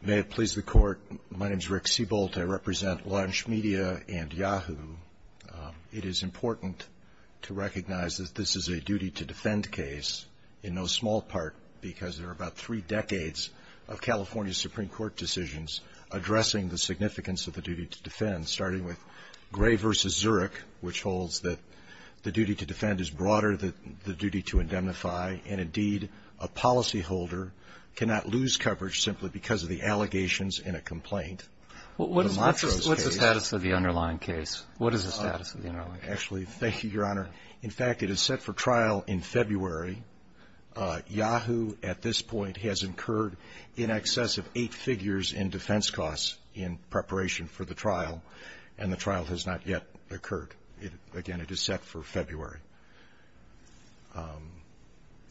May it please the Court, my name is Rick Seabolt. I represent Launch Media and Yahoo. It is important to recognize that this is a duty-to-defend case in no small part because there are about three decades of California Supreme Court decisions addressing the significance of the duty-to-defend, starting with Gray v. Zurich, which holds that the duty-to-defend is broader than the duty-to-indemnify, and indeed, a policyholder cannot live without a duty-to-defend. simply because of the allegations in a complaint. What is the status of the underlying case? Actually, thank you, Your Honor. In fact, it is set for trial in February. Yahoo, at this point, has incurred in excess of eight figures in defense costs in preparation for the trial, and the trial has not yet occurred. Again, it is set for February.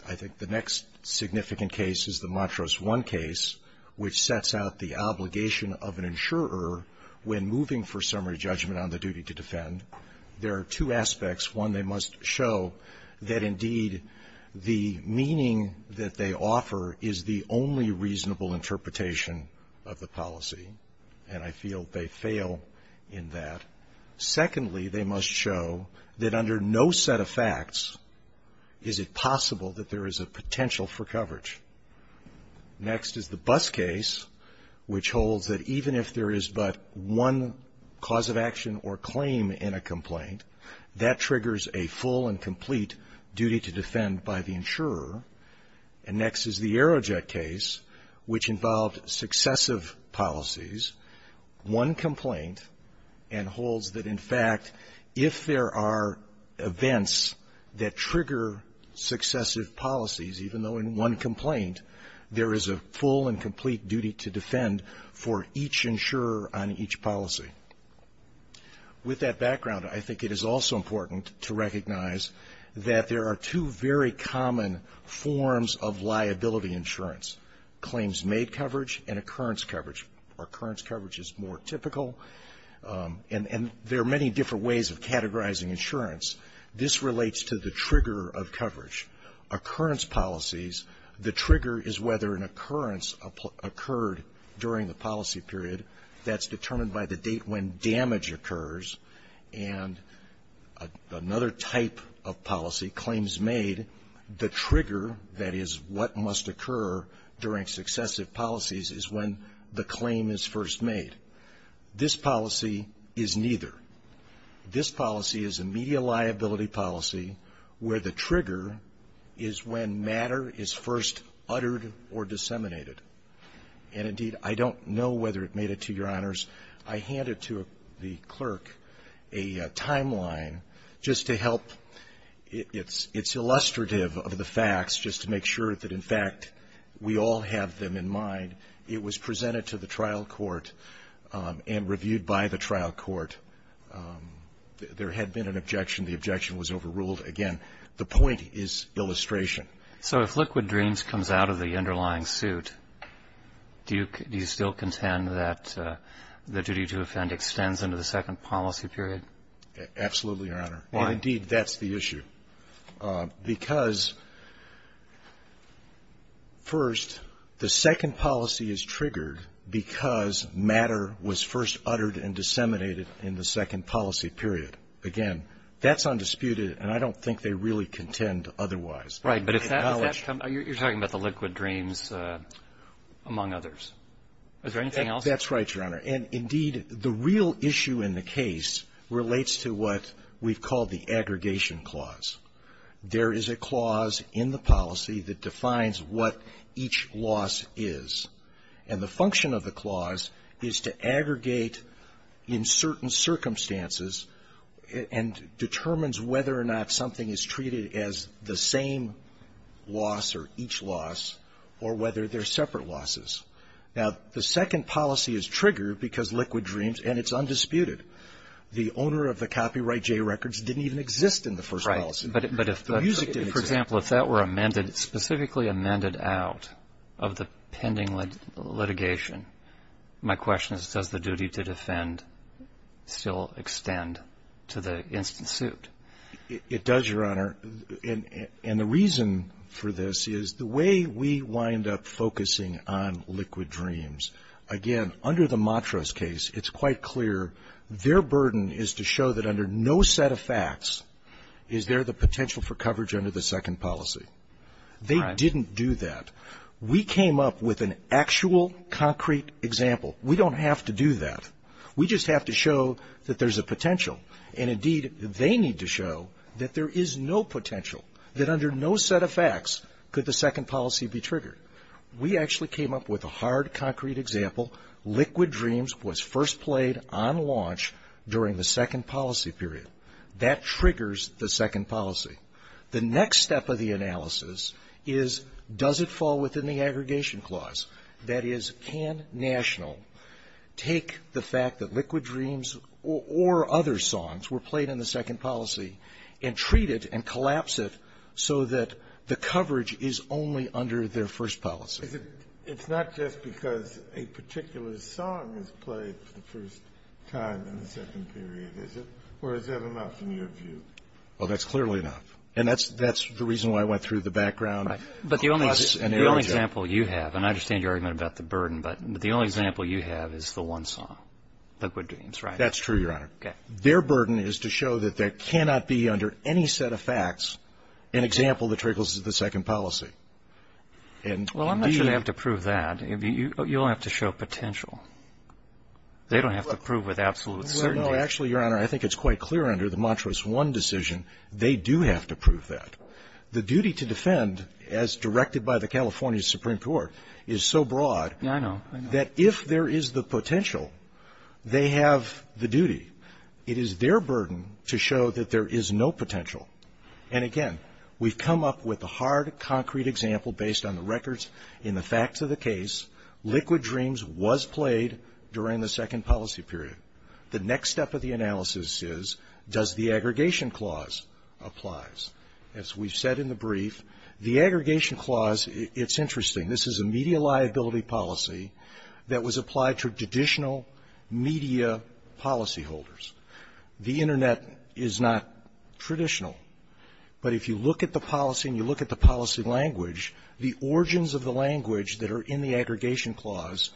I think the next significant case is the Montrose I case, which sets out the obligation of an insurer when moving for summary judgment on the duty-to-defend. There are two aspects. One, they must show that, indeed, the meaning that they offer is the only reasonable interpretation of the policy, and I feel they fail in that. Secondly, they must show that under no set of facts is it possible that there is a potential for coverage. Next is the Buss case, which holds that even if there is but one cause of action or claim in a complaint, that triggers a full and complete duty-to-defend by the insurer. And next is the Aerojet case, which involved successive policies, one complaint, and holds that, in fact, if there are events that trigger successive policies, even though in one complaint, there is a full and complete duty-to-defend for each insurer on each policy. With that background, I think it is also important to recognize that there are two very common forms of liability insurance, claims made coverage and occurrence coverage. Occurrence coverage is more typical, and there are many different ways of categorizing insurance. This relates to the trigger of coverage. Occurrence policies, the trigger is whether an occurrence occurred during the policy period. That's determined by the date when damage occurs. And another type of policy, claims made, the trigger, that is, what must occur during successive policies, is when the claim is first made. This policy is neither. This policy is a media liability policy where the trigger is when matter is first uttered or disseminated. And, indeed, I don't know whether it made it to your honors. I handed to the clerk a timeline just to help. It's illustrative of the facts just to make sure that, in fact, we all have them in mind. It was presented to the trial court and reviewed by the trial court. There had been an objection. The objection was overruled. Again, the point is illustration. So if Liquid Dreams comes out of the underlying suit, do you still contend that the duty-to-offend extends into the second policy period? Absolutely, Your Honor. Why? Indeed, that's the issue. Because, first, the second policy is triggered because matter was first uttered and disseminated in the second policy period. Again, that's undisputed, and I don't think they really contend otherwise. Right. But if that comes up, you're talking about the Liquid Dreams, among others. Is there anything else? That's right, Your Honor. And, indeed, the real issue in the case relates to what we've called the aggregation clause. There is a clause in the policy that defines what each loss is. And the function of the clause is to aggregate in certain circumstances and determines whether or not something is treated as the same loss or each loss or whether they're separate losses. Now, the second policy is triggered because Liquid Dreams, and it's undisputed, the owner of the copyright J records didn't even exist in the first policy period. Right. But if, for example, if that were amended, specifically amended out of the pending litigation, my question is, does the duty-to-defend still extend to the instant suit? It does, Your Honor. And the reason for this is the way we wind up focusing on Liquid Dreams, again, under the Matras case, it's quite clear their burden is to show that under no set of facts is there the potential for coverage under the second policy. Right. They didn't do that. We came up with an actual concrete example. We don't have to do that. We just have to show that there's a potential. And, indeed, they need to show that there is no potential, that under no set of facts could the second policy be triggered. We actually came up with a hard, concrete example. Liquid Dreams was first played on launch during the second policy period. That triggers the second policy. The next step of the analysis is, does it fall within the aggregation clause? That is, can National take the fact that Liquid Dreams or other songs were played in the second policy and treat it and collapse it so that the coverage is only under their first policy? It's not just because a particular song is played for the first time in the second period, is it? Or is that enough in your view? Well, that's clearly enough. And that's the reason why I went through the background. But the only example you have, and I understand your argument about the burden, but the only example you have is the one song, Liquid Dreams, right? That's true, Your Honor. Okay. Their burden is to show that there cannot be under any set of facts an example that triggers the second policy. Well, I'm not sure they have to prove that. You'll have to show potential. They don't have to prove with absolute certainty. No, actually, Your Honor, I think it's quite clear under the Montrose 1 decision they do have to prove that. The duty to defend, as directed by the California Supreme Court, is so broad that if there is the potential, they have the duty. It is their burden to show that there is no potential. And, again, we've come up with a hard, concrete example based on the records in the facts of the case. Liquid Dreams was played during the second policy period. The next step of the analysis is, does the aggregation clause applies? As we've said in the brief, the aggregation clause, it's interesting. This is a media liability policy that was applied to traditional media policyholders. The Internet is not traditional, but if you look at the policy and you look at the policy language, the origins of the language that are in the aggregation clause,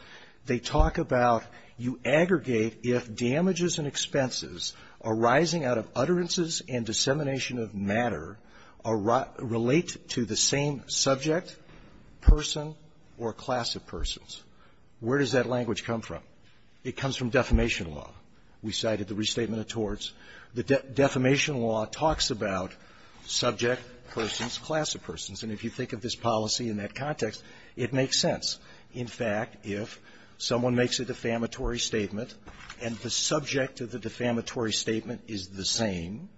they talk about you aggregate if damages and expenses arising out of utterances and dissemination of matter relate to the same subject, person, or class of persons. Where does that language come from? It comes from defamation law. We cited the Restatement of Torts. The defamation law talks about subject persons, class of persons, and if you think of this policy in that context, it makes sense. In fact, if someone makes a defamatory statement and the subject of the defamatory statement is the same,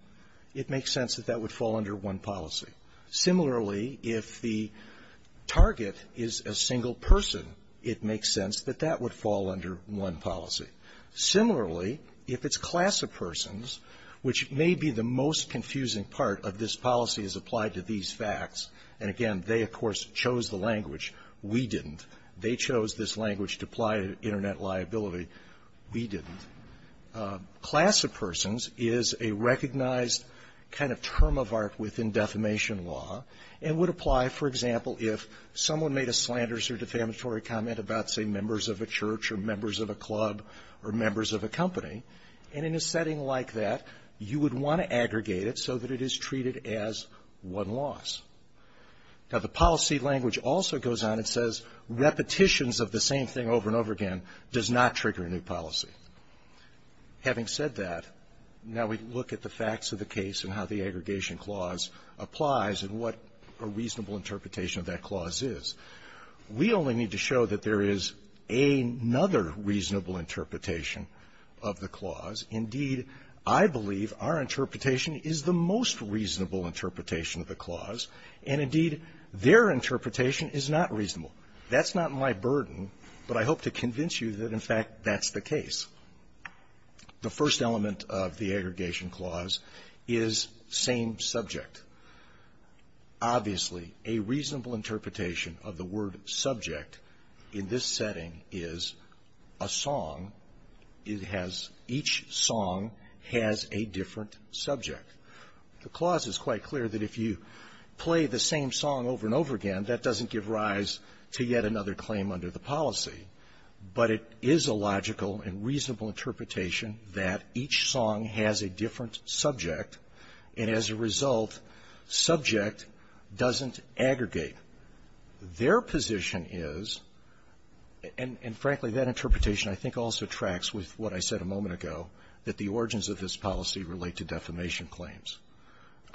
it makes sense that that would fall under one policy. Similarly, if the target is a single person, it makes sense that that would fall under one policy. Similarly, if it's class of persons, which may be the most confusing part of this policy as applied to these facts, and again, they, of course, chose the language. We didn't. They chose this language to apply to Internet liability. We didn't. Class of persons is a recognized kind of term of art within defamation law and would apply, for example, if someone made a slanders or defamatory comment about, say, members of a church or members of a club or members of a company. And in a setting like that, you would want to aggregate it so that it is treated as one loss. Now, the policy language also goes on and says repetitions of the same thing over and over again does not trigger a new policy. Having said that, now we look at the facts of the case and how the aggregation clause applies and what a reasonable interpretation of that clause is. We only need to show that there is another reasonable interpretation of the clause. Indeed, I believe our interpretation is the most reasonable interpretation of the clause, and indeed, their interpretation is not reasonable. That's not my burden, but I hope to convince you that, in fact, that's the case. The first element of the aggregation clause is same subject. Obviously, a reasonable interpretation of the word subject in this setting is a song. It has each song has a different subject. The clause is quite clear that if you play the same song over and over again, that doesn't give rise to yet another claim under the policy. But it is a logical and reasonable interpretation that each song has a different subject, and as a result, subject doesn't aggregate. Their position is, and frankly, that interpretation I think also tracks with what I said a moment ago, that the origins of this policy relate to defamation claims.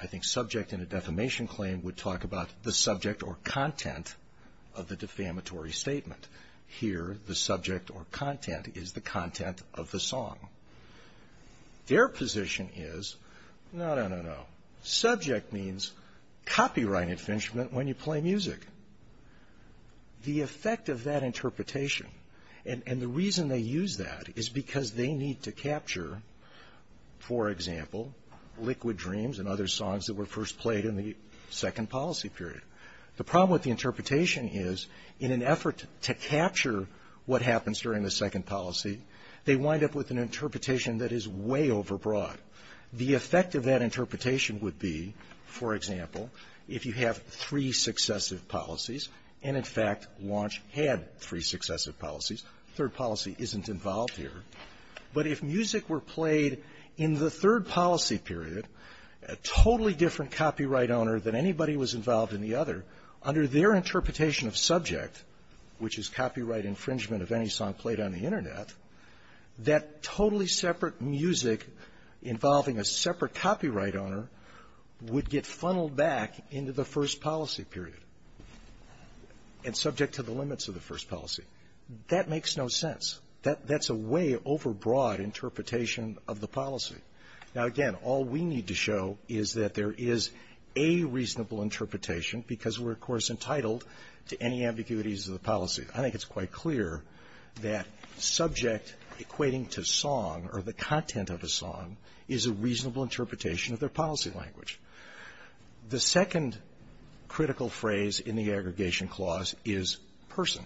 I think subject in a defamation claim would talk about the subject or content of the defamatory statement. Here, the subject or content is the content of the song. Their position is, no, no, no, no. Subject means copyright infringement when you play music. The effect of that interpretation, and the reason they use that is because they need to capture, for example, Liquid Dreams and other songs that were first played in the second policy period. The problem with the interpretation is in an effort to capture what happens during the second policy, they wind up with an interpretation that is way overbroad. The effect of that interpretation would be, for example, if you have three successive policies, third policy isn't involved here, but if music were played in the third policy period, a totally different copyright owner than anybody was involved in the other, under their interpretation of subject, which is copyright infringement of any song played on the Internet, that totally separate music involving a separate policy. That makes no sense. That's a way overbroad interpretation of the policy. Now, again, all we need to show is that there is a reasonable interpretation because we're, of course, entitled to any ambiguities of the policy. I think it's quite clear that subject equating to song or the content of a song is a reasonable interpretation of their policy language. The second critical phrase in the aggregation clause is person.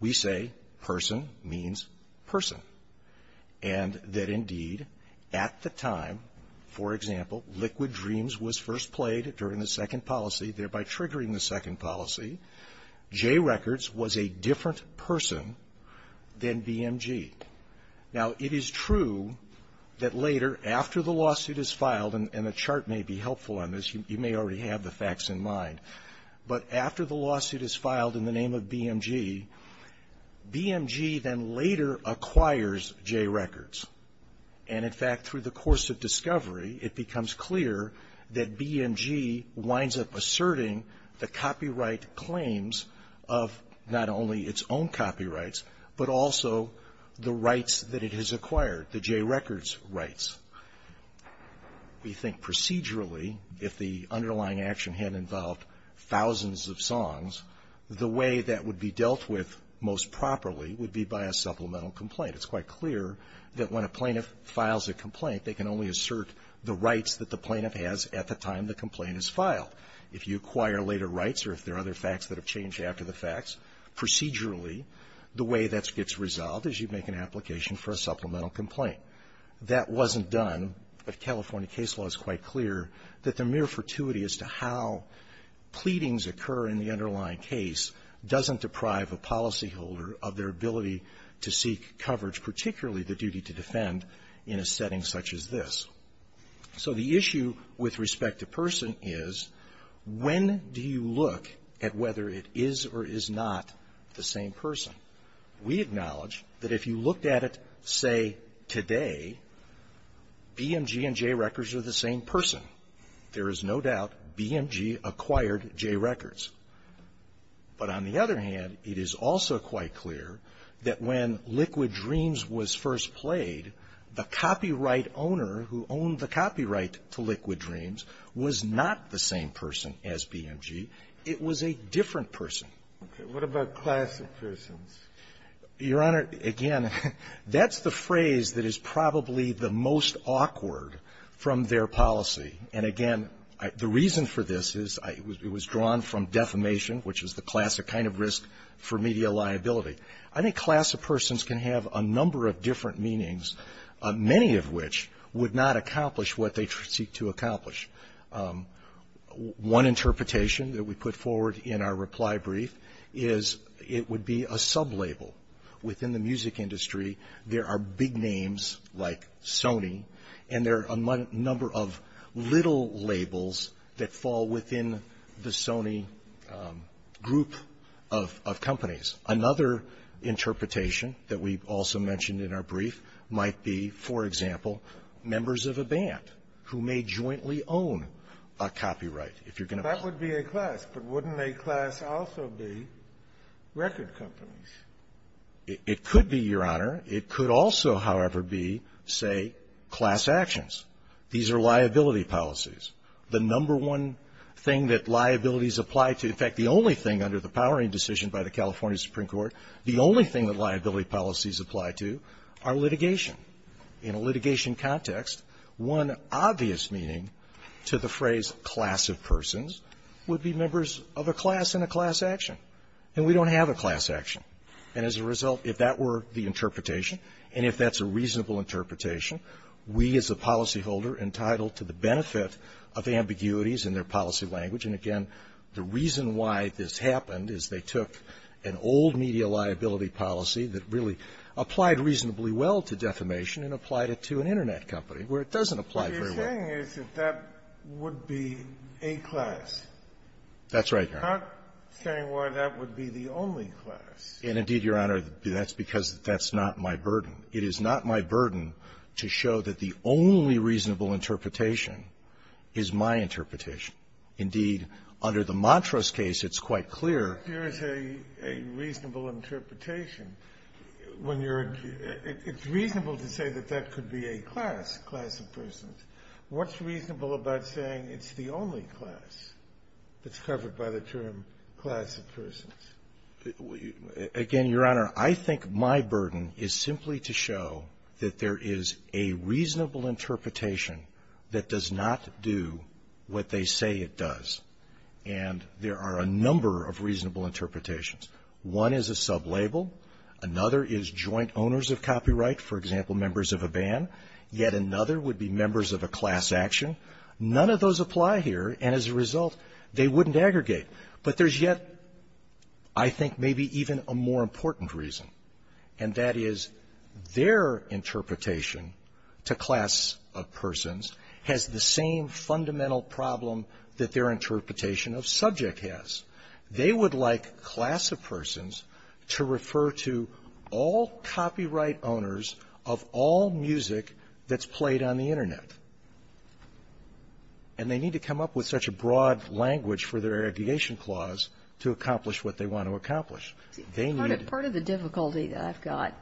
We say person means person. And that, indeed, at the time, for example, Liquid Dreams was first played during the second policy, thereby triggering the second policy, Jay Records was a different person than BMG. Now, it is true that later, after the lawsuit is filed, and the chart may be helpful on this. You may already have the facts in mind. But after the lawsuit is filed in the name of BMG, BMG then later acquires Jay Records. And, in fact, through the course of discovery, it becomes clear that BMG winds up asserting the copyright claims of not only its own copyrights, but also the rights that it has acquired, the Jay Records rights. We think procedurally, if the underlying action had involved thousands of songs, the way that would be dealt with most properly would be by a supplemental complaint. It's quite clear that when a plaintiff files a complaint, they can only assert the rights that the plaintiff has at the time the complaint is filed. If you acquire later facts that have changed after the facts, procedurally, the way that gets resolved is you make an application for a supplemental complaint. That wasn't done. The California case law is quite clear that the mere fortuity as to how pleadings occur in the underlying case doesn't deprive a policyholder of their ability to seek coverage, particularly the duty to defend, in a setting such as this. So, the issue with respect to person is, when do you look at whether it is or is not the same person? We acknowledge that if you looked at it, say, today, BMG and Jay Records are the same person. There is no doubt BMG acquired Jay Records. But, on the other hand, it is also quite clear that when Liquid Dreams was first played, the copyright owner who owned the copyright to Liquid Dreams was not the same person as BMG. It was a different person. Okay. What about class of persons? Your Honor, again, that's the phrase that is probably the most awkward from their policy. And, again, the reason for this is it was drawn from defamation, which is the which would not accomplish what they seek to accomplish. One interpretation that we put forward in our reply brief is it would be a sub-label. Within the music industry, there are big names like Sony, and there are a number of little labels that fall within the Sony group of companies. Another interpretation that we also mentioned in our brief might be, for example, members of a band who may jointly own a copyright. That would be a class, but wouldn't a class also be record companies? It could be, Your Honor. It could also, however, be, say, class actions. These are liability policies. The number one thing that liabilities apply to, in fact, the only thing under the powering decision by the California Supreme Court, the only thing that liability policies apply to are litigation. In a litigation context, one obvious meaning to the phrase class of persons would be members of a class in a class action, and we don't have a class action. And as a result, if that were the interpretation and if that's a reasonable interpretation, we as a policyholder entitled to the benefit of ambiguities in their policy language. And again, the reason why this happened is they took an old media liability policy that really applied reasonably well to defamation and applied it to an Internet company, where it doesn't apply very well. What you're saying is that that would be a class. That's right, Your Honor. I'm not saying why that would be the only class. And indeed, Your Honor, that's because that's not my burden. It is not my burden to show that the only reasonable interpretation is my interpretation. Indeed, under the Montrose case, it's quite clear. Here's a reasonable interpretation. When you're at the end, it's reasonable to say that that could be a class, class of persons. What's reasonable about saying it's the only class that's covered by the term class of persons? Again, Your Honor, I think my burden is simply to show that there is a reasonable interpretation that does not do what they say it does. And there are a number of reasonable interpretations. One is a sublabel. Another is joint owners of copyright, for example, members of a ban. Yet another would be members of a class action. None of those apply here, and as a result, they wouldn't aggregate. But there's yet, I think, maybe even a more important reason, and that is their interpretation to class of persons has the same fundamental problem that their interpretation of subject has. They would like class of persons to refer to all copyright owners of all music that's played on the Internet. And they need to come up with such a broad language for their aggregation clause to accomplish what they want to accomplish. They need to be able to do that. Kagan. Part of the difficulty that I've got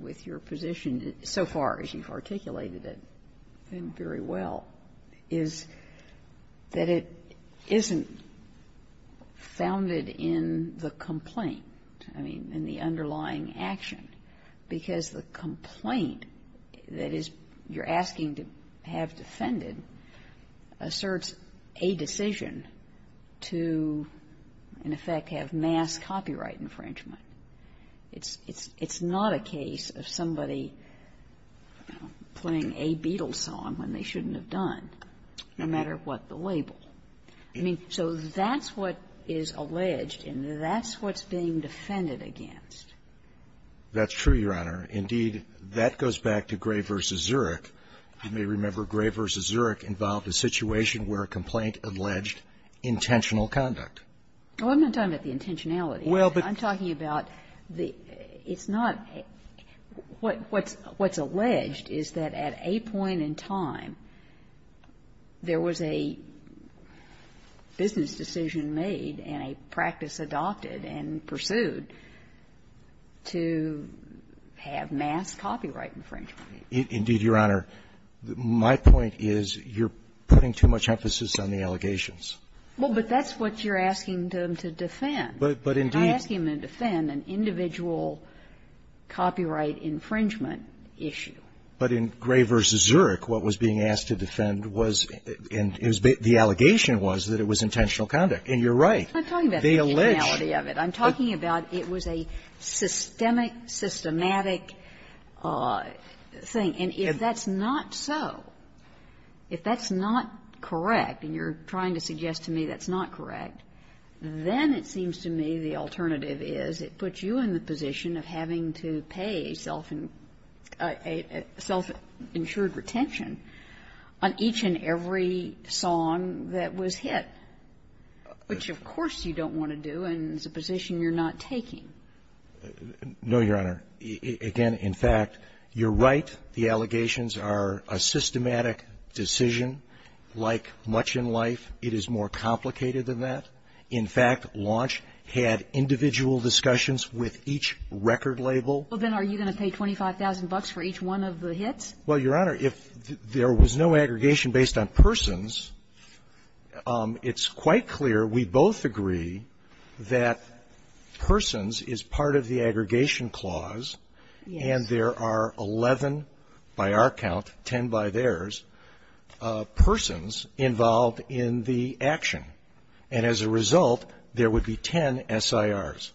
with your position so far, as you've articulated it very well, is that it isn't founded in the complaint, I mean, in the underlying action, because the complaint that is you're asking to have defended asserts a decision to, in effect, have mass copyright infringement. It's not a case of somebody playing a Beatles song when they shouldn't have done, no matter what the label. I mean, so that's what is alleged, and that's what's being defended against. That's true, Your Honor. Indeed, that goes back to Gray v. Zurek. You may remember Gray v. Zurek involved a situation where a complaint alleged intentional conduct. Well, I'm not talking about the intentionality. Well, but the ---- I'm talking about the ---- it's not ---- what's alleged is that at a point in time there was a business decision made and a practice adopted and pursued to have mass copyright infringement. Indeed, Your Honor, my point is you're putting too much emphasis on the allegations. Well, but that's what you're asking them to defend. But indeed ---- I'm asking them to defend an individual copyright infringement issue. But in Gray v. Zurek, what was being asked to defend was the allegation was that it was intentional conduct, and you're right. I'm talking about the intentionality of it. I'm talking about it was a systemic, systematic thing. And if that's not so, if that's not correct, and you're trying to suggest to me that's not correct, then it seems to me the alternative is it puts you in the position of having to pay self-insured retention on each and every song that was hit, which of course you don't want to do and is a position you're not taking. No, Your Honor. Again, in fact, you're right. The allegations are a systematic decision. Like much in life, it is more complicated than that. In fact, Launch had individual discussions with each record label. Well, then, are you going to pay 25,000 bucks for each one of the hits? Well, Your Honor, if there was no aggregation based on persons, it's quite clear we both agree that persons is part of the aggregation clause, and there are 11 by our count, 10 by theirs, persons involved in the action. And as a result, there would be 10 SIRs.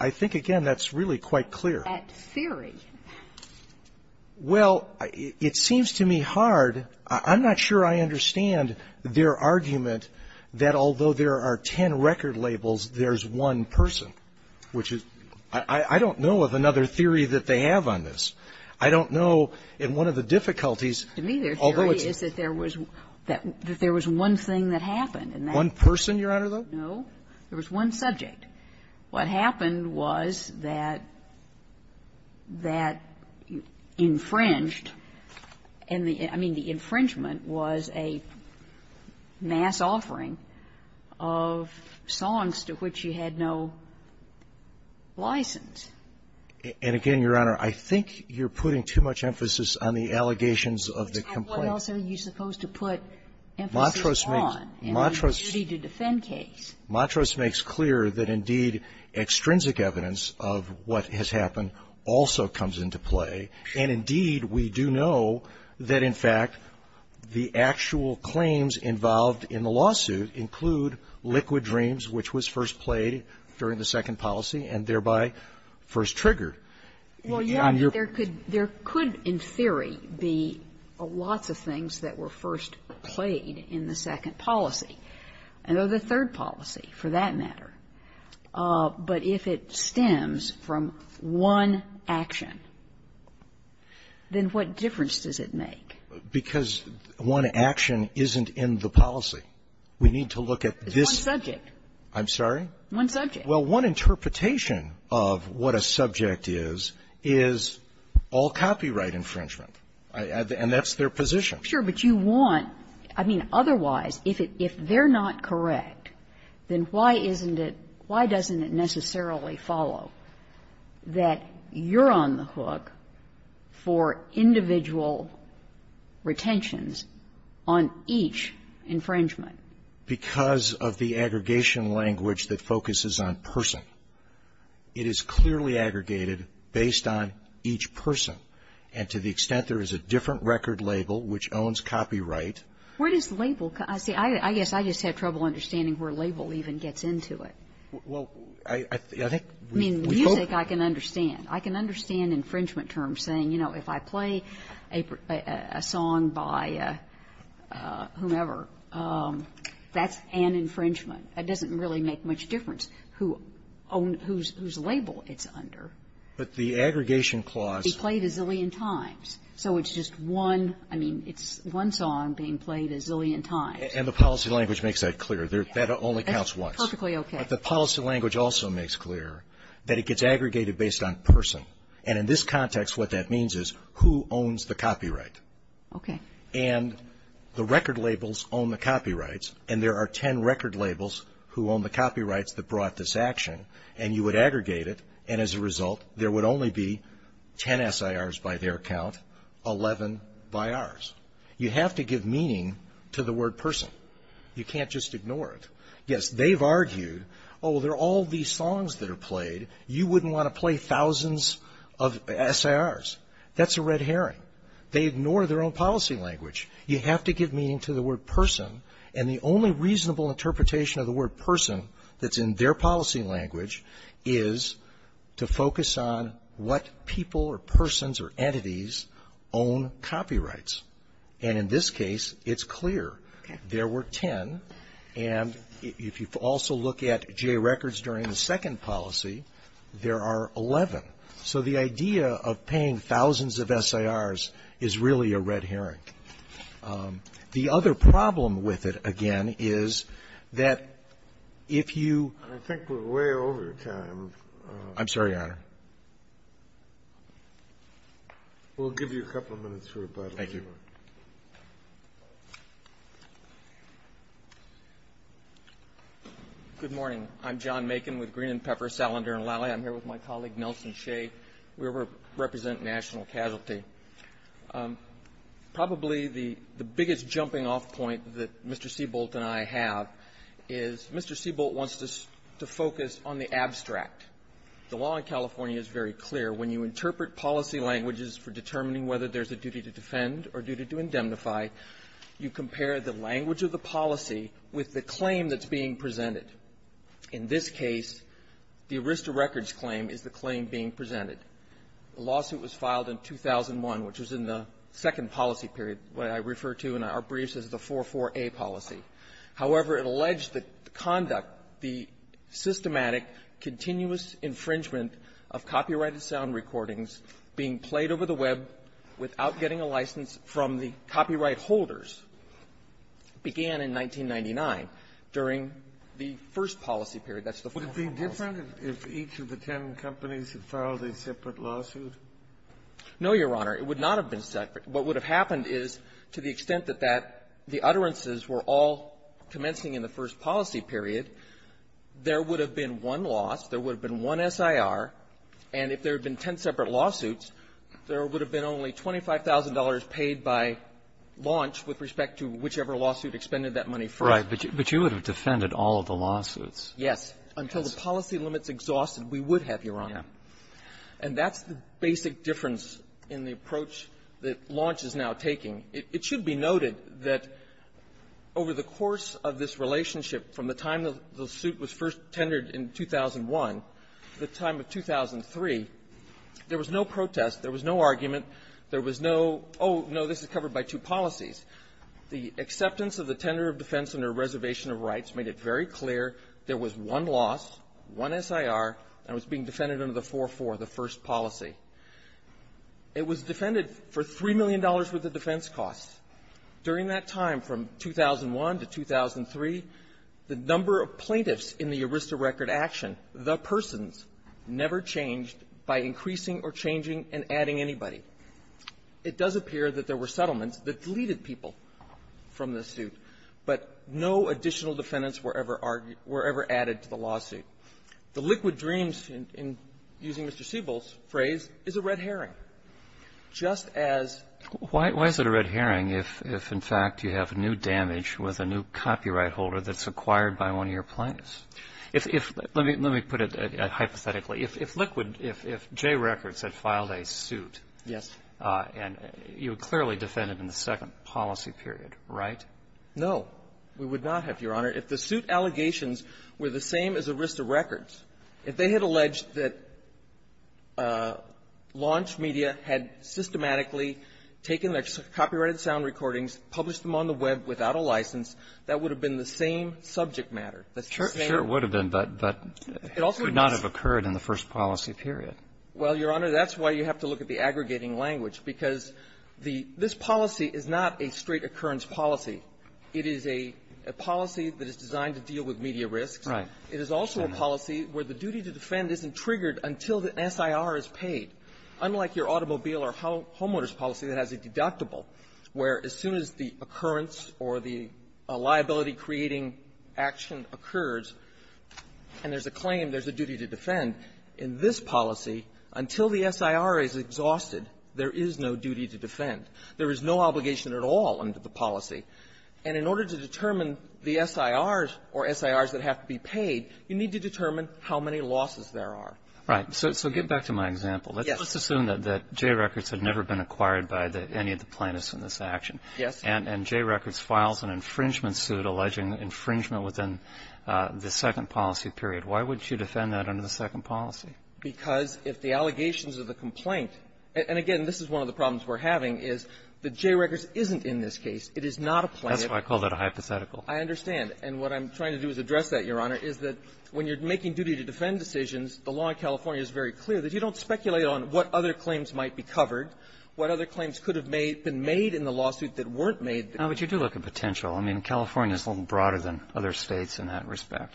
I think, again, that's really quite clear. That theory? Well, it seems to me hard. I'm not sure I understand their argument that although there are 10 record labels, there's one person, which is — I don't know of another theory that they have on this. In one of the difficulties, although it's — It seems to me their theory is that there was one thing that happened, and that — One person, Your Honor, though? No. There was one subject. What happened was that that infringed, and the — I mean, the infringement was a mass offering of songs to which you had no license. And again, Your Honor, I think you're putting too much emphasis on the allegations of the complaint. What else are you supposed to put emphasis on in the duty-to-defend case? Montrose makes clear that, indeed, extrinsic evidence of what has happened also comes into play, and, indeed, we do know that, in fact, the actual claims involved in the lawsuit include liquid dreams, which was first played during the second policy, and thereby first triggered. Well, Your Honor, there could — there could, in theory, be lots of things that were first played in the second policy, and of the third policy, for that matter. But if it stems from one action, then what difference does it make? Because one action isn't in the policy. We need to look at this — It's one subject. I'm sorry? One subject. Well, one interpretation of what a subject is, is all copyright infringement. And that's their position. Sure. But you want — I mean, otherwise, if it — if they're not correct, then why isn't it — why doesn't it necessarily follow that you're on the hook for individual retentions on each infringement? Because of the aggregation language that focuses on person, it is clearly aggregated based on each person. And to the extent there is a different record label which owns copyright Where does label — see, I guess I just have trouble understanding where label even gets into it. Well, I think — I mean, music, I can understand. I can understand infringement terms saying, you know, if I play a song by whomever, that's an infringement. It doesn't really make much difference whose label it's under. But the aggregation clause — Be played a zillion times. So it's just one — I mean, it's one song being played a zillion times. And the policy language makes that clear. That only counts once. That's perfectly okay. But the policy language also makes clear that it gets aggregated based on person. And in this context, what that means is who owns the copyright. Okay. And the record labels own the copyrights. And there are 10 record labels who own the copyrights that brought this action. And you would aggregate it. And as a result, there would only be 10 SIRs by their count, 11 by ours. You have to give meaning to the word person. You can't just ignore it. Yes, they've argued, oh, there are all these songs that are played. You wouldn't want to play thousands of SIRs. That's a red herring. They ignore their own policy language. You have to give meaning to the word person. And the only reasonable interpretation of the word person that's in their policy language is to focus on what people or persons or entities own copyrights. And in this case, it's clear. There were 10. And if you also look at Jay Records during the second policy, there are 11. So the idea of paying thousands of SIRs is really a red herring. The other problem with it, again, is that if you — I think we're way over time. I'm sorry, Your Honor. We'll give you a couple of minutes for rebuttal. Thank you. Good morning. I'm John Makin with Green and Pepper, Salander & Lally. I'm here with my colleague, Nelson Shea. We represent national casualty. Probably the biggest jumping-off point that Mr. Seabolt and I have is Mr. Seabolt wants to focus on the abstract. The law in California is very clear. When you interpret policy languages for determining whether there's a duty to defend or duty to indemnify, you compare the language of the policy with the claim that's being presented. In this case, the Arista Records claim is the claim being presented. The lawsuit was filed in 2001, which was in the second policy period, what I refer to in our briefs as the 4-4-A policy. However, it alleged that the conduct, the systematic, continuous infringement of copyrighted sound recordings being played over the web without getting a license from the copyright holders began in 1999, during the first policy period. That's the 4-4 policy. Would it be different if each of the ten companies had filed a separate lawsuit? No, Your Honor. It would not have been separate. What would have happened is, to the extent that that the utterances were all commencing in the first policy period, there would have been one loss. There would have been one SIR. And if there had been ten separate lawsuits, there would have been only $25,000 paid by launch with respect to whichever lawsuit expended that money first. Right. But you would have defended all of the lawsuits. Yes. Until the policy limits exhausted, we would have, Your Honor. Yeah. And that's the basic difference in the approach that launch is now taking. It should be noted that over the course of this relationship, from the time the suit was first tendered in 2001 to the time of 2003, there was no protest, there was no Oh, no. This is covered by two policies. The acceptance of the tender of defense under reservation of rights made it very clear there was one loss, one SIR, and it was being defended under the 4-4, the first policy. It was defended for $3 million worth of defense costs. During that time, from 2001 to 2003, the number of plaintiffs in the ERISTA record action, the persons, never changed by increasing or changing and adding anybody. It does appear that there were settlements that deleted people from the suit, but no additional defendants were ever argued or ever added to the lawsuit. The liquid dreams, using Mr. Siebel's phrase, is a red herring, just as Why is it a red herring if, in fact, you have new damage with a new copyright holder that's acquired by one of your plaintiffs? If Let me put it hypothetically. If liquid, if Jay Records had filed a suit. Yes. And you would clearly defend it in the second policy period, right? No, we would not have, Your Honor. If the suit allegations were the same as ERISTA records, if they had alleged that launch media had systematically taken their copyrighted sound recordings, published them on the Web without a license, that would have been the same subject matter. Sure, it would have been, but it would not have occurred in the first policy period. Well, Your Honor, that's why you have to look at the aggregating language, because the this policy is not a straight occurrence policy. It is a policy that is designed to deal with media risks. Right. It is also a policy where the duty to defend isn't triggered until the SIR is paid. Unlike your automobile or homeowners policy that has a deductible, where as soon as the occurrence or the liability-creating action occurs, and there's a claim, there's a duty to defend, in this policy, until the SIR is exhausted, there is no duty to defend. There is no obligation at all under the policy. And in order to determine the SIRs or SIRs that have to be paid, you need to determine how many losses there are. Right. So get back to my example. Yes. Let's assume that Jay Records had never been acquired by any of the plaintiffs in this action. Yes. And Jay Records files an infringement suit alleging infringement within the second policy period. Why would you defend that under the second policy? Because if the allegations of the complaint – and again, this is one of the problems we're having, is that Jay Records isn't in this case. It is not a plaintiff. That's why I call that a hypothetical. I understand. And what I'm trying to do is address that, Your Honor, is that when you're making duty to defend decisions, the law in California is very clear that you don't speculate on what other claims might be covered, what other claims could have made – been made that weren't made. No, but you do look at potential. I mean, California is a little broader than other States in that respect.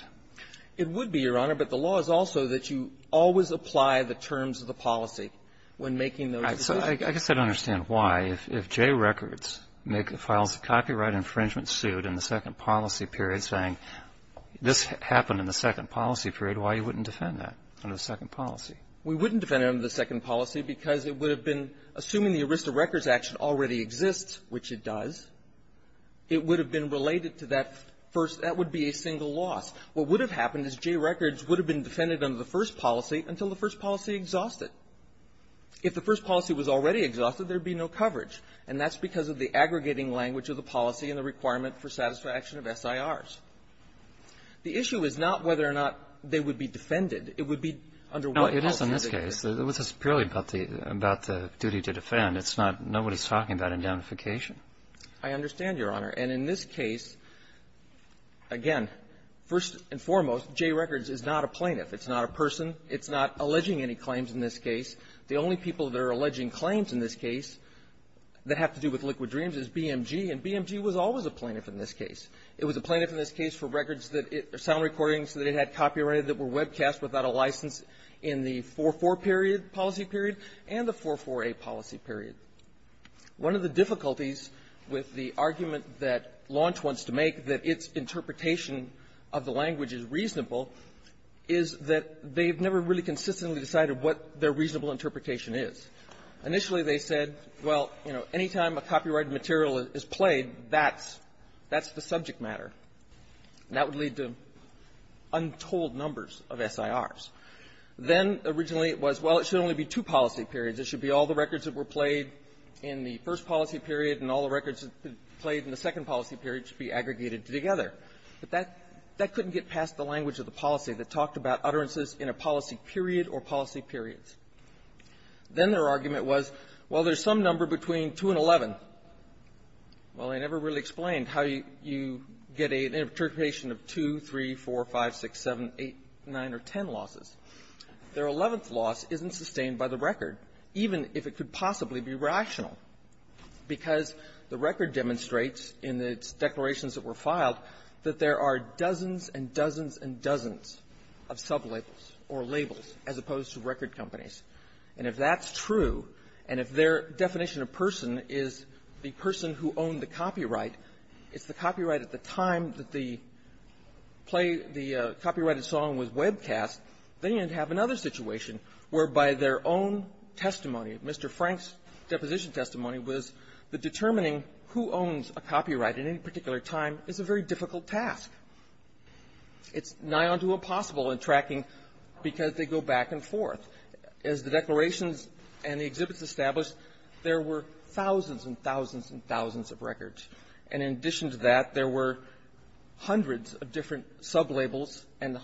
It would be, Your Honor, but the law is also that you always apply the terms of the policy when making those decisions. I guess I don't understand why. If Jay Records files a copyright infringement suit in the second policy period saying this happened in the second policy period, why you wouldn't defend that under the second policy? We wouldn't defend it under the second policy because it would have been – assuming the Arista Records action already exists, which it does, it would have been related to that first – that would be a single loss. What would have happened is Jay Records would have been defended under the first policy until the first policy exhausted. If the first policy was already exhausted, there would be no coverage, and that's because of the aggregating language of the policy and the requirement for satisfaction of SIRs. The issue is not whether or not they would be defended. It would be under what policy they would be defended. It's purely about the duty to defend. It's not – nobody's talking about a damnification. I understand, Your Honor. And in this case, again, first and foremost, Jay Records is not a plaintiff. It's not a person. It's not alleging any claims in this case. The only people that are alleging claims in this case that have to do with Liquid Dreams is BMG, and BMG was always a plaintiff in this case. It was a plaintiff in this case for records that – sound recordings that it had copyrighted that were webcast without a license in the 4-4 period, policy period, and the 4-4a policy period. One of the difficulties with the argument that Launch wants to make, that its interpretation of the language is reasonable, is that they've never really consistently decided what their reasonable interpretation is. Initially, they said, well, you know, anytime a copyrighted material is played, that's – that's the subject matter. That would lead to untold numbers of SIRs. Then, originally, it was, well, it should only be two policy periods. It should be all the records that were played in the first policy period, and all the records played in the second policy period should be aggregated together. But that – that couldn't get past the language of the policy that talked about utterances in a policy period or policy periods. Then their argument was, well, there's some number between 2 and 11. Well, they never really explained how you get an interpretation of 2, 3, 4, 5, 6, 7, 8, 9, or 10 losses. Their 11th loss isn't sustained by the record, even if it could possibly be rational, because the record demonstrates in its declarations that were filed that there are dozens and dozens and dozens of sublabels or labels as opposed to record companies. And if that's true, and if their definition of person is the person who owned the the play – the copyrighted song was webcast, they didn't have another situation whereby their own testimony, Mr. Frank's deposition testimony, was that determining who owns a copyright at any particular time is a very difficult task. It's nigh unto impossible in tracking, because they go back and forth. As the declarations and the exhibits established, there were thousands and thousands and thousands of hundreds of different sublabels, and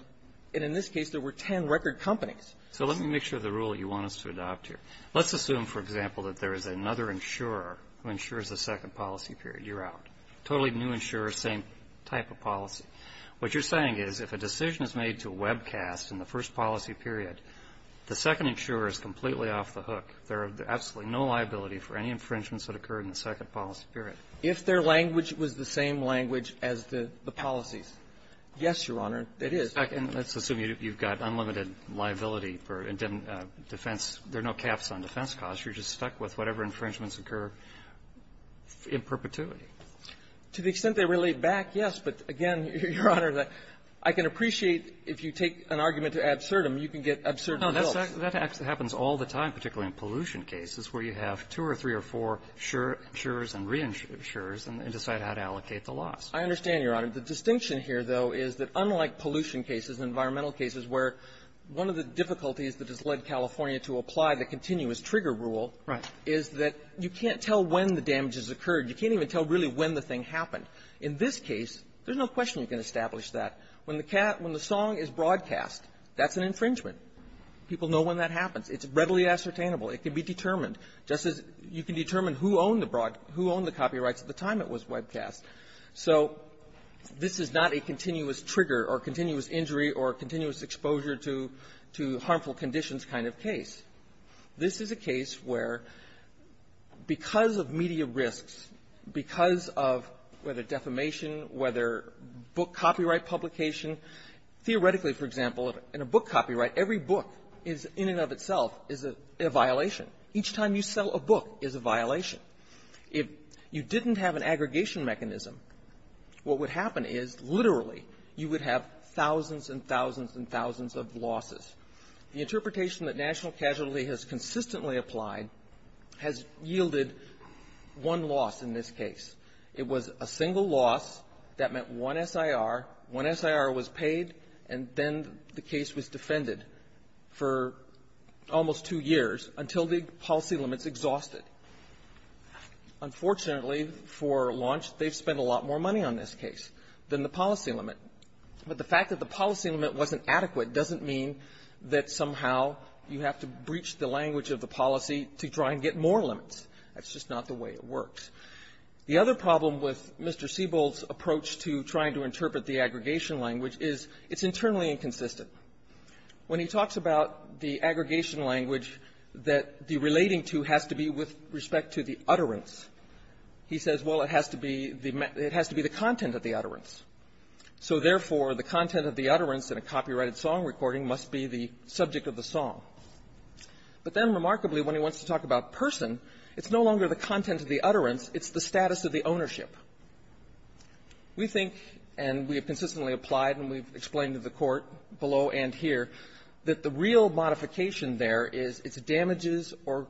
in this case, there were 10 record companies. So let me make sure the rule you want us to adopt here. Let's assume, for example, that there is another insurer who insures the second policy period. You're out. Totally new insurer, same type of policy. What you're saying is, if a decision is made to webcast in the first policy period, the second insurer is completely off the hook. There are absolutely no liability for any infringements that occurred in the second policy period. If their language was the same language as the policies. Yes, Your Honor, it is. And let's assume you've got unlimited liability for defense. There are no caps on defense costs. You're just stuck with whatever infringements occur in perpetuity. To the extent they relate back, yes. But again, Your Honor, I can appreciate if you take an argument to absurdum, you can get absurd guilt. No. That happens all the time, particularly in pollution cases, where you have two or three or four insurers and reinsurers and decide how to allocate the loss. I understand, Your Honor. The distinction here, though, is that unlike pollution cases, environmental cases, where one of the difficulties that has led California to apply the continuous trigger rule is that you can't tell when the damage has occurred. You can't even tell really when the thing happened. In this case, there's no question you can establish that. When the song is broadcast, that's an infringement. People know when that happens. It's readily ascertainable. It can be determined. Just as you can determine who owned the copyrights at the time it was webcast. So this is not a continuous trigger or continuous injury or continuous exposure to harmful conditions kind of case. This is a case where because of media risks, because of whether defamation, whether book copyright publication, theoretically, for example, in a book copyright, every book is in and of itself is a violation. Each time you sell a book is a violation. If you didn't have an aggregation mechanism, what would happen is literally you would have thousands and thousands and thousands of losses. The interpretation that national casualty has consistently applied has yielded one loss in this case. It was a single loss that meant one SIR. One SIR was paid, and then the case was defended for almost two years until the policy limits exhausted. Unfortunately, for launch, they've spent a lot more money on this case than the policy limit. But the fact that the policy limit wasn't adequate doesn't mean that somehow you have to breach the language of the policy to try and get more limits. That's just not the way it works. The other problem with Mr. Siebel's approach to trying to interpret the aggregation language is it's internally inconsistent. When he talks about the aggregation language that the relating to has to be with respect to the utterance, he says, well, it has to be the content of the utterance. So, therefore, the content of the utterance in a copyrighted song recording must be the subject of the song. But then, remarkably, when he wants to talk about person, it's no longer the content of the utterance, it's the status of the ownership. We think, and we have consistently applied, and we've explained to the Court below and here, that the real modification there is it's damages or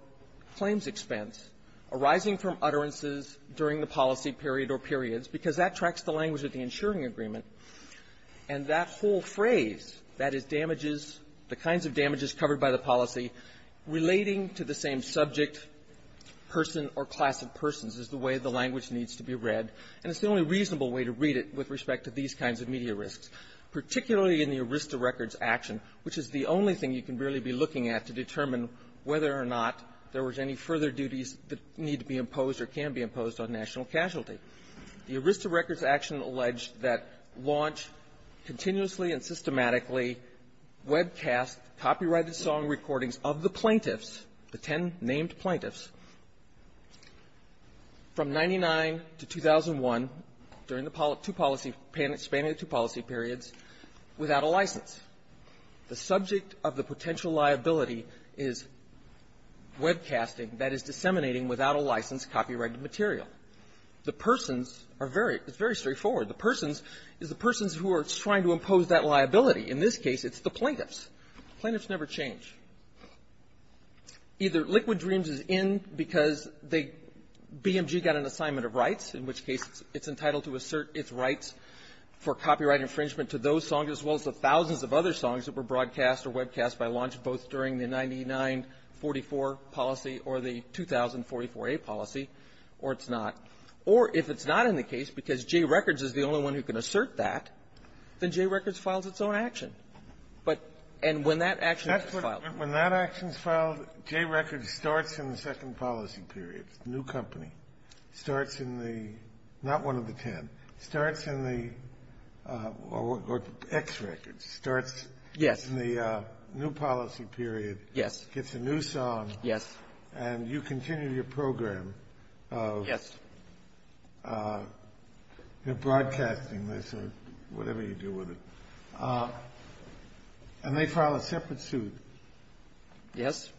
claims expense arising from utterances during the policy period or periods, because that tracks the language of the insuring agreement. And that whole phrase, that is damages the kinds of damages covered by the policy relating to the same subject, person, or class of persons, is the way the language needs to be read. And it's the only reasonable way to read it with respect to these kinds of media risks, particularly in the ERISTA records action, which is the only thing you can really be looking at to determine whether or not there was any further duties that need to be imposed or can be imposed on national casualty. The ERISTA records action alleged that launch, continuously and systematically, webcast, copyrighted recordings of the plaintiffs, the ten named plaintiffs, from 99 to 2001, during the two policy periods, spanning the two policy periods, without a license. The subject of the potential liability is webcasting, that is, disseminating without a license, copyrighted material. The persons are very, it's very straightforward. The persons is the persons who are trying to impose that liability. In this case, it's the plaintiffs. The plaintiffs never change. Either Liquid Dreams is in because they, BMG got an assignment of rights, in which case it's entitled to assert its rights for copyright infringement to those songs, as well as the thousands of other songs that were broadcast or webcast by launch, both during the 9944 policy or the 2044a policy, or it's not. Or if it's not in the case because Jay Records is the only one who can assert that, then Jay Records files its own action. But and when that action is filed. When that action is filed, Jay Records starts in the second policy period, new company, starts in the, not one of the ten, starts in the, or X Records, starts in the new policy period. Yes. Gets a new song. Yes. And you continue your program of broadcasting this or whatever you do with it. And they file a separate suit. Yes.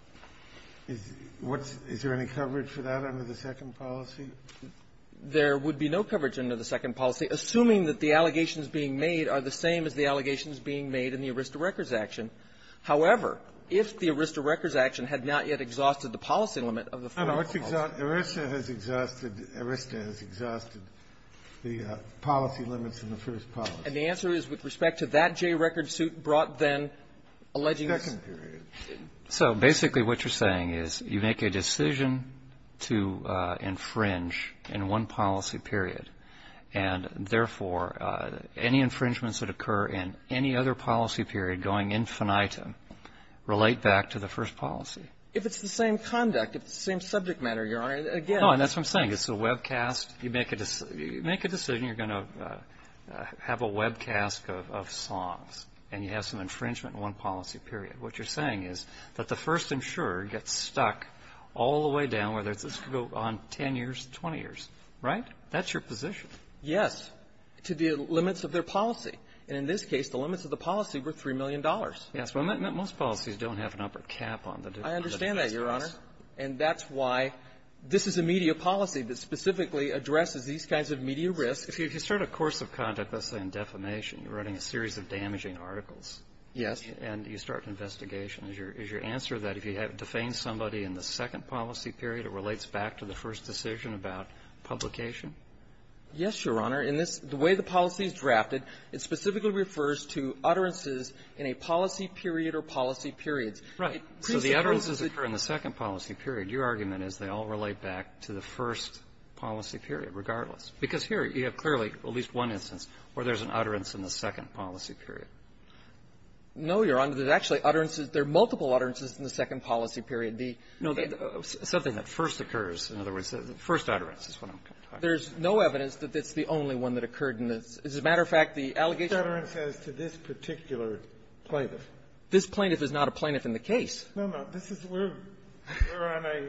Is there any coverage for that under the second policy? There would be no coverage under the second policy, assuming that the allegations being made are the same as the allegations being made in the Arista Records action. However, if the Arista Records action had not yet exhausted the policy limit of the first policy. No, no. Arista has exhausted, Arista has exhausted the policy limits in the first policy. And the answer is with respect to that Jay Records suit brought then alleging Second period. So basically what you're saying is you make a decision to infringe in one policy period. And therefore, any infringements that occur in any other policy period going infinitum relate back to the first policy. If it's the same conduct, if it's the same subject matter, Your Honor, again. No. And that's what I'm saying. It's a webcast. You make a decision. You're going to have a webcast of songs. And you have some infringement in one policy period. What you're saying is that the first insurer gets stuck all the way down, whether this could go on 10 years, 20 years. Right? That's your position. Yes, to the limits of their policy. And in this case, the limits of the policy were $3 million. Yes. Well, most policies don't have an upper cap on the difference. I understand that, Your Honor. And that's why this is a media policy that specifically addresses these kinds of media risks. If you start a course of conduct, let's say in defamation, you're writing a series of damaging articles. Yes. And you start an investigation. Is your answer that if you have defamed somebody in the second policy period, it relates back to the first decision about publication? Yes, Your Honor. In this the way the policy is drafted, it specifically refers to utterances in a policy period or policy periods. Right. So the utterances occur in the second policy period. Your argument is they all relate back to the first policy period regardless. Because here you have clearly at least one instance where there's an utterance in the second policy period. No, Your Honor. There's actually utterances. There are multiple utterances in the second policy period. The no, the something that first occurs. In other words, the first utterance is what I'm talking about. There's no evidence that it's the only one that occurred in this. As a matter of fact, the allegation of the first one occurred in the second policy period. The utterance is to this particular plaintiff. This plaintiff is not a plaintiff in the case. No, no. This is where we're on a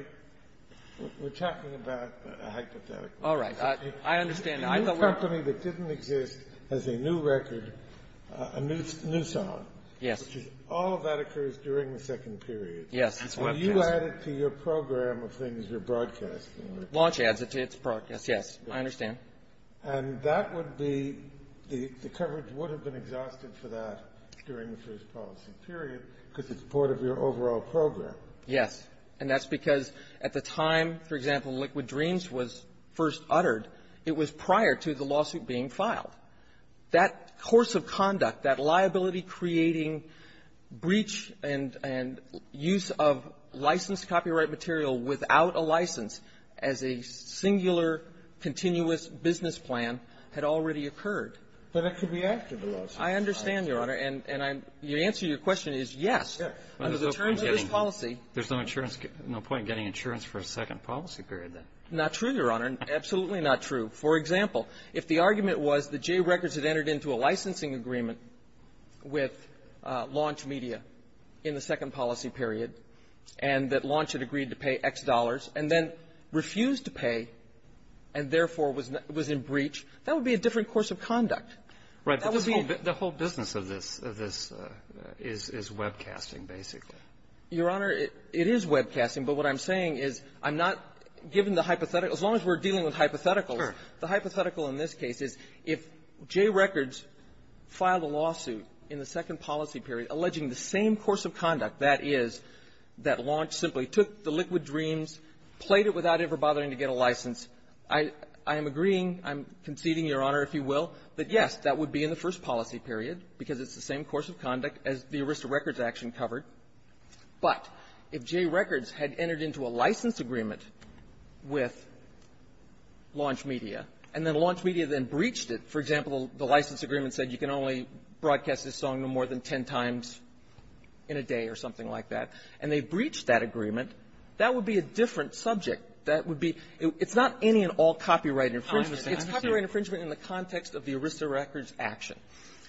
we're talking about a hypothetical. All right. I understand now. I thought we were talking about a company that didn't exist as a new record, a new song. Yes. Which is all of that occurs during the second period. Yes. That's what I'm trying to say. And you add it to your program of things you're broadcasting. Launch adds it to its program. Yes. Yes, I understand. And that would be the coverage would have been exhausted for that during the first policy period because it's part of your overall program. Yes. And that's because at the time, for example, Liquid Dreams was first uttered, it was prior to the lawsuit being filed. That course of conduct, that liability creating breach and and use of licensed copyright material without a license as a singular continuous business plan had already occurred. But it could be after the lawsuit. I understand, Your Honor. And and I'm your answer. Your question is, yes, under the terms of this policy, there's no insurance, no point in getting insurance for a second policy period. Not true, Your Honor. Absolutely not true. For example, if the argument was the J records had entered into a licensing agreement with Launch Media in the second policy period and that Launch had agreed to pay X dollars and then refused to pay and therefore was in breach, that would be a different course of conduct. Right. The whole business of this is webcasting, basically. Your Honor, it is webcasting. But what I'm saying is I'm not given the hypothetical. As long as we're dealing with hypotheticals, the hypothetical in this case is if J records filed a lawsuit in the second policy period alleging the same course of conduct, that is, that Launch simply took the liquid dreams, played it without ever bothering to get a license, I am agreeing, I'm conceding, Your Honor, if you will, that, yes, that would be in the first policy period because it's the same course of conduct as the Arista Records action covered. But if J records had entered into a license agreement with Launch Media and then the license agreement said you can only broadcast this song no more than ten times in a day or something like that and they breached that agreement, that would be a different subject. That would be — it's not any and all copyright infringement. It's copyright infringement in the context of the Arista Records action.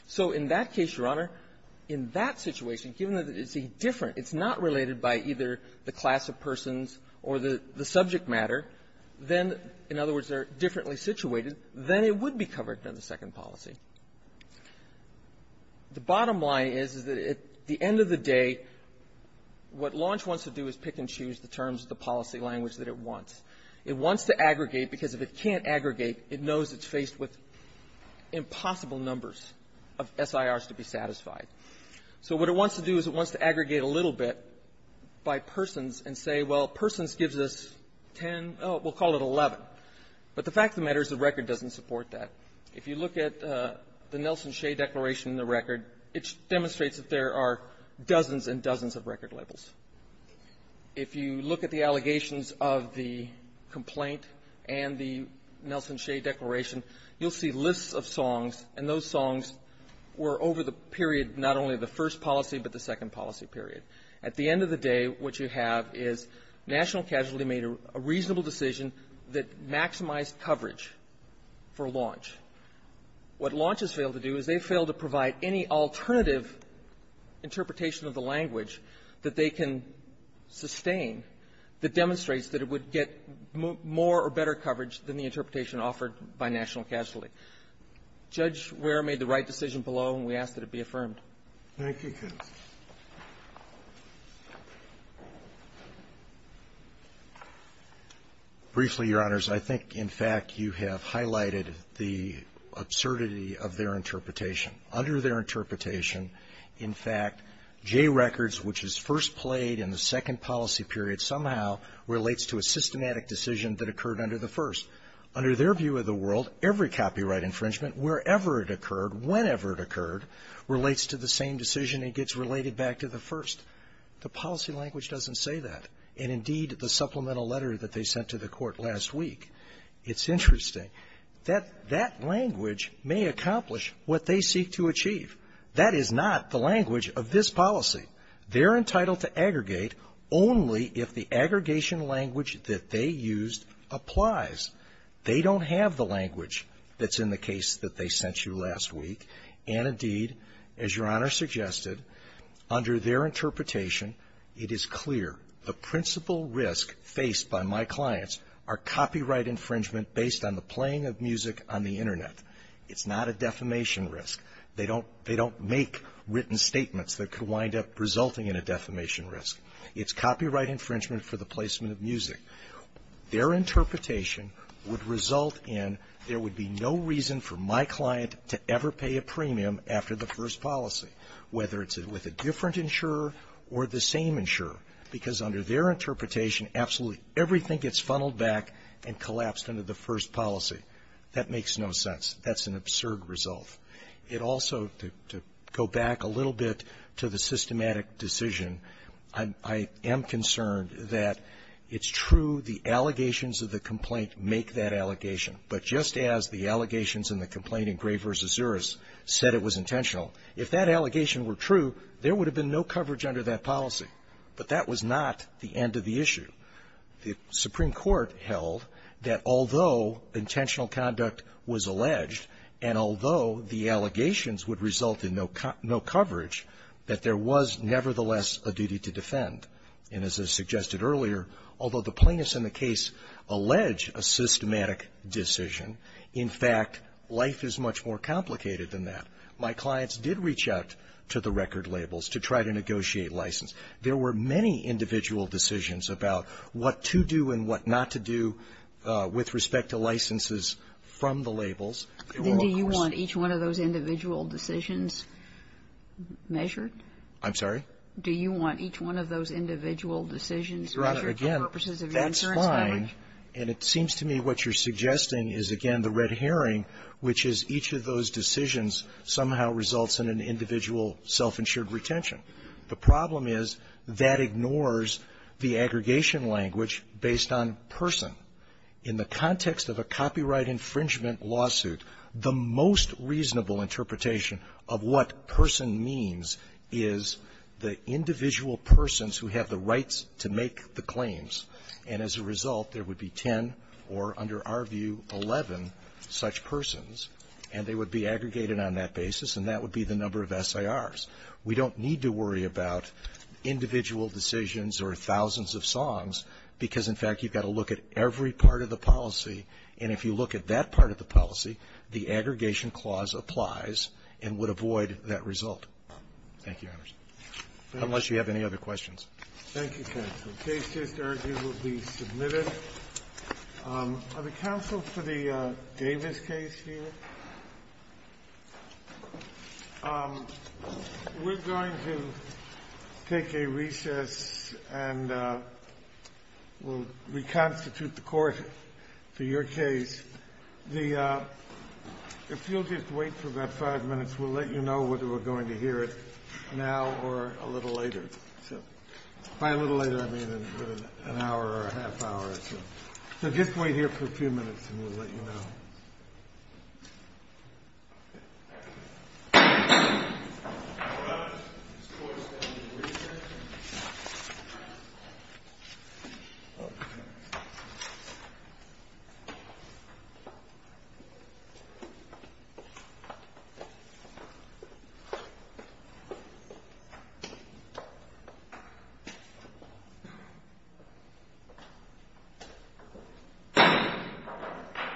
So in that case, Your Honor, in that situation, given that it's a different — it's not related by either the class of persons or the subject matter, then, in other words, they're differently situated, then it would be covered in the second policy. The bottom line is, is that at the end of the day, what Launch wants to do is pick and choose the terms of the policy language that it wants. It wants to aggregate because if it can't aggregate, it knows it's faced with impossible numbers of SIRs to be satisfied. So what it wants to do is it wants to aggregate a little bit by persons and say, well, persons gives us 10 — we'll call it 11. But the fact of the matter is the record doesn't support that. If you look at the Nelson Shea Declaration in the record, it demonstrates that there are dozens and dozens of record labels. If you look at the allegations of the complaint and the Nelson Shea Declaration, you'll see lists of songs, and those songs were over the period not only of the first policy but the second policy period. At the end of the day, what you have is National Casualty made a reasonable decision that maximized coverage for Launch. What Launch has failed to do is they failed to provide any alternative interpretation of the language that they can sustain that demonstrates that it would get more or better coverage than the interpretation offered by National Casualty. Judge Ware made the right decision below, and we ask that it be affirmed. Thank you, Counsel. Briefly, Your Honors, I think, in fact, you have highlighted the absurdity of their interpretation. Under their interpretation, in fact, Jay Records, which is first played in the second policy period, somehow relates to a systematic decision that occurred under the first. Under their view of the world, every copyright infringement, wherever it occurred, whenever it occurred, relates to the same decision and gets related back to the first. The policy language doesn't say that. And, indeed, the supplemental letter that they sent to the Court last week, it's interesting. That language may accomplish what they seek to achieve. That is not the language of this policy. They're entitled to aggregate only if the aggregation language that they used applies. They don't have the language that's in the case that they sent you last week. And, indeed, as Your Honor suggested, under their interpretation, it is clear the principal risk faced by my clients are copyright infringement based on the playing of music on the Internet. It's not a defamation risk. They don't make written statements that could wind up resulting in a defamation risk. It's copyright infringement for the placement of music. Their interpretation would result in there would be no reason for my client to ever pay a premium after the first policy, whether it's with a different insurer or the same insurer, because under their interpretation, absolutely everything gets funneled back and collapsed under the first policy. That makes no sense. That's an absurd result. It also, to go back a little bit to the systematic decision, I'm concerned that it's true the allegations of the complaint make that allegation. But just as the allegations in the complaint in Gray v. Zuris said it was intentional, if that allegation were true, there would have been no coverage under that policy. But that was not the end of the issue. The Supreme Court held that although intentional conduct was alleged and although the allegations would result in no coverage, that there was nevertheless a duty to The plaintiffs in the case allege a systematic decision. In fact, life is much more complicated than that. My clients did reach out to the record labels to try to negotiate license. There were many individual decisions about what to do and what not to do with respect It will, of course be the case that the record labels are the ones that make the decision. Kagan. Do you want each one of those individual decisions measured? I'm sorry? Do you want each one of those individual decisions measured for purposes of your own That's fine. And it seems to me what you're suggesting is, again, the red herring, which is each of those decisions somehow results in an individual self-insured retention. The problem is that ignores the aggregation language based on person. In the context of a copyright infringement lawsuit, the most reasonable interpretation of what person means is the individual persons who have the rights to make the claims And as a result, there would be 10 or, under our view, 11 such persons. And they would be aggregated on that basis. And that would be the number of SIRs. We don't need to worry about individual decisions or thousands of songs because, in fact, you've got to look at every part of the policy. And if you look at that part of the policy, the aggregation clause applies and would avoid that result. Thank you, Your Honors. Unless you have any other questions. Thank you, counsel. The case just argued will be submitted. Are the counsel for the Davis case here? We're going to take a recess and we'll reconstitute the court for your case. If you'll just wait for about five minutes, we'll let you know whether we're going to hear it now or a little later. By a little later, I mean in an hour or a half hour or so. So just wait here for a few minutes and we'll let you know.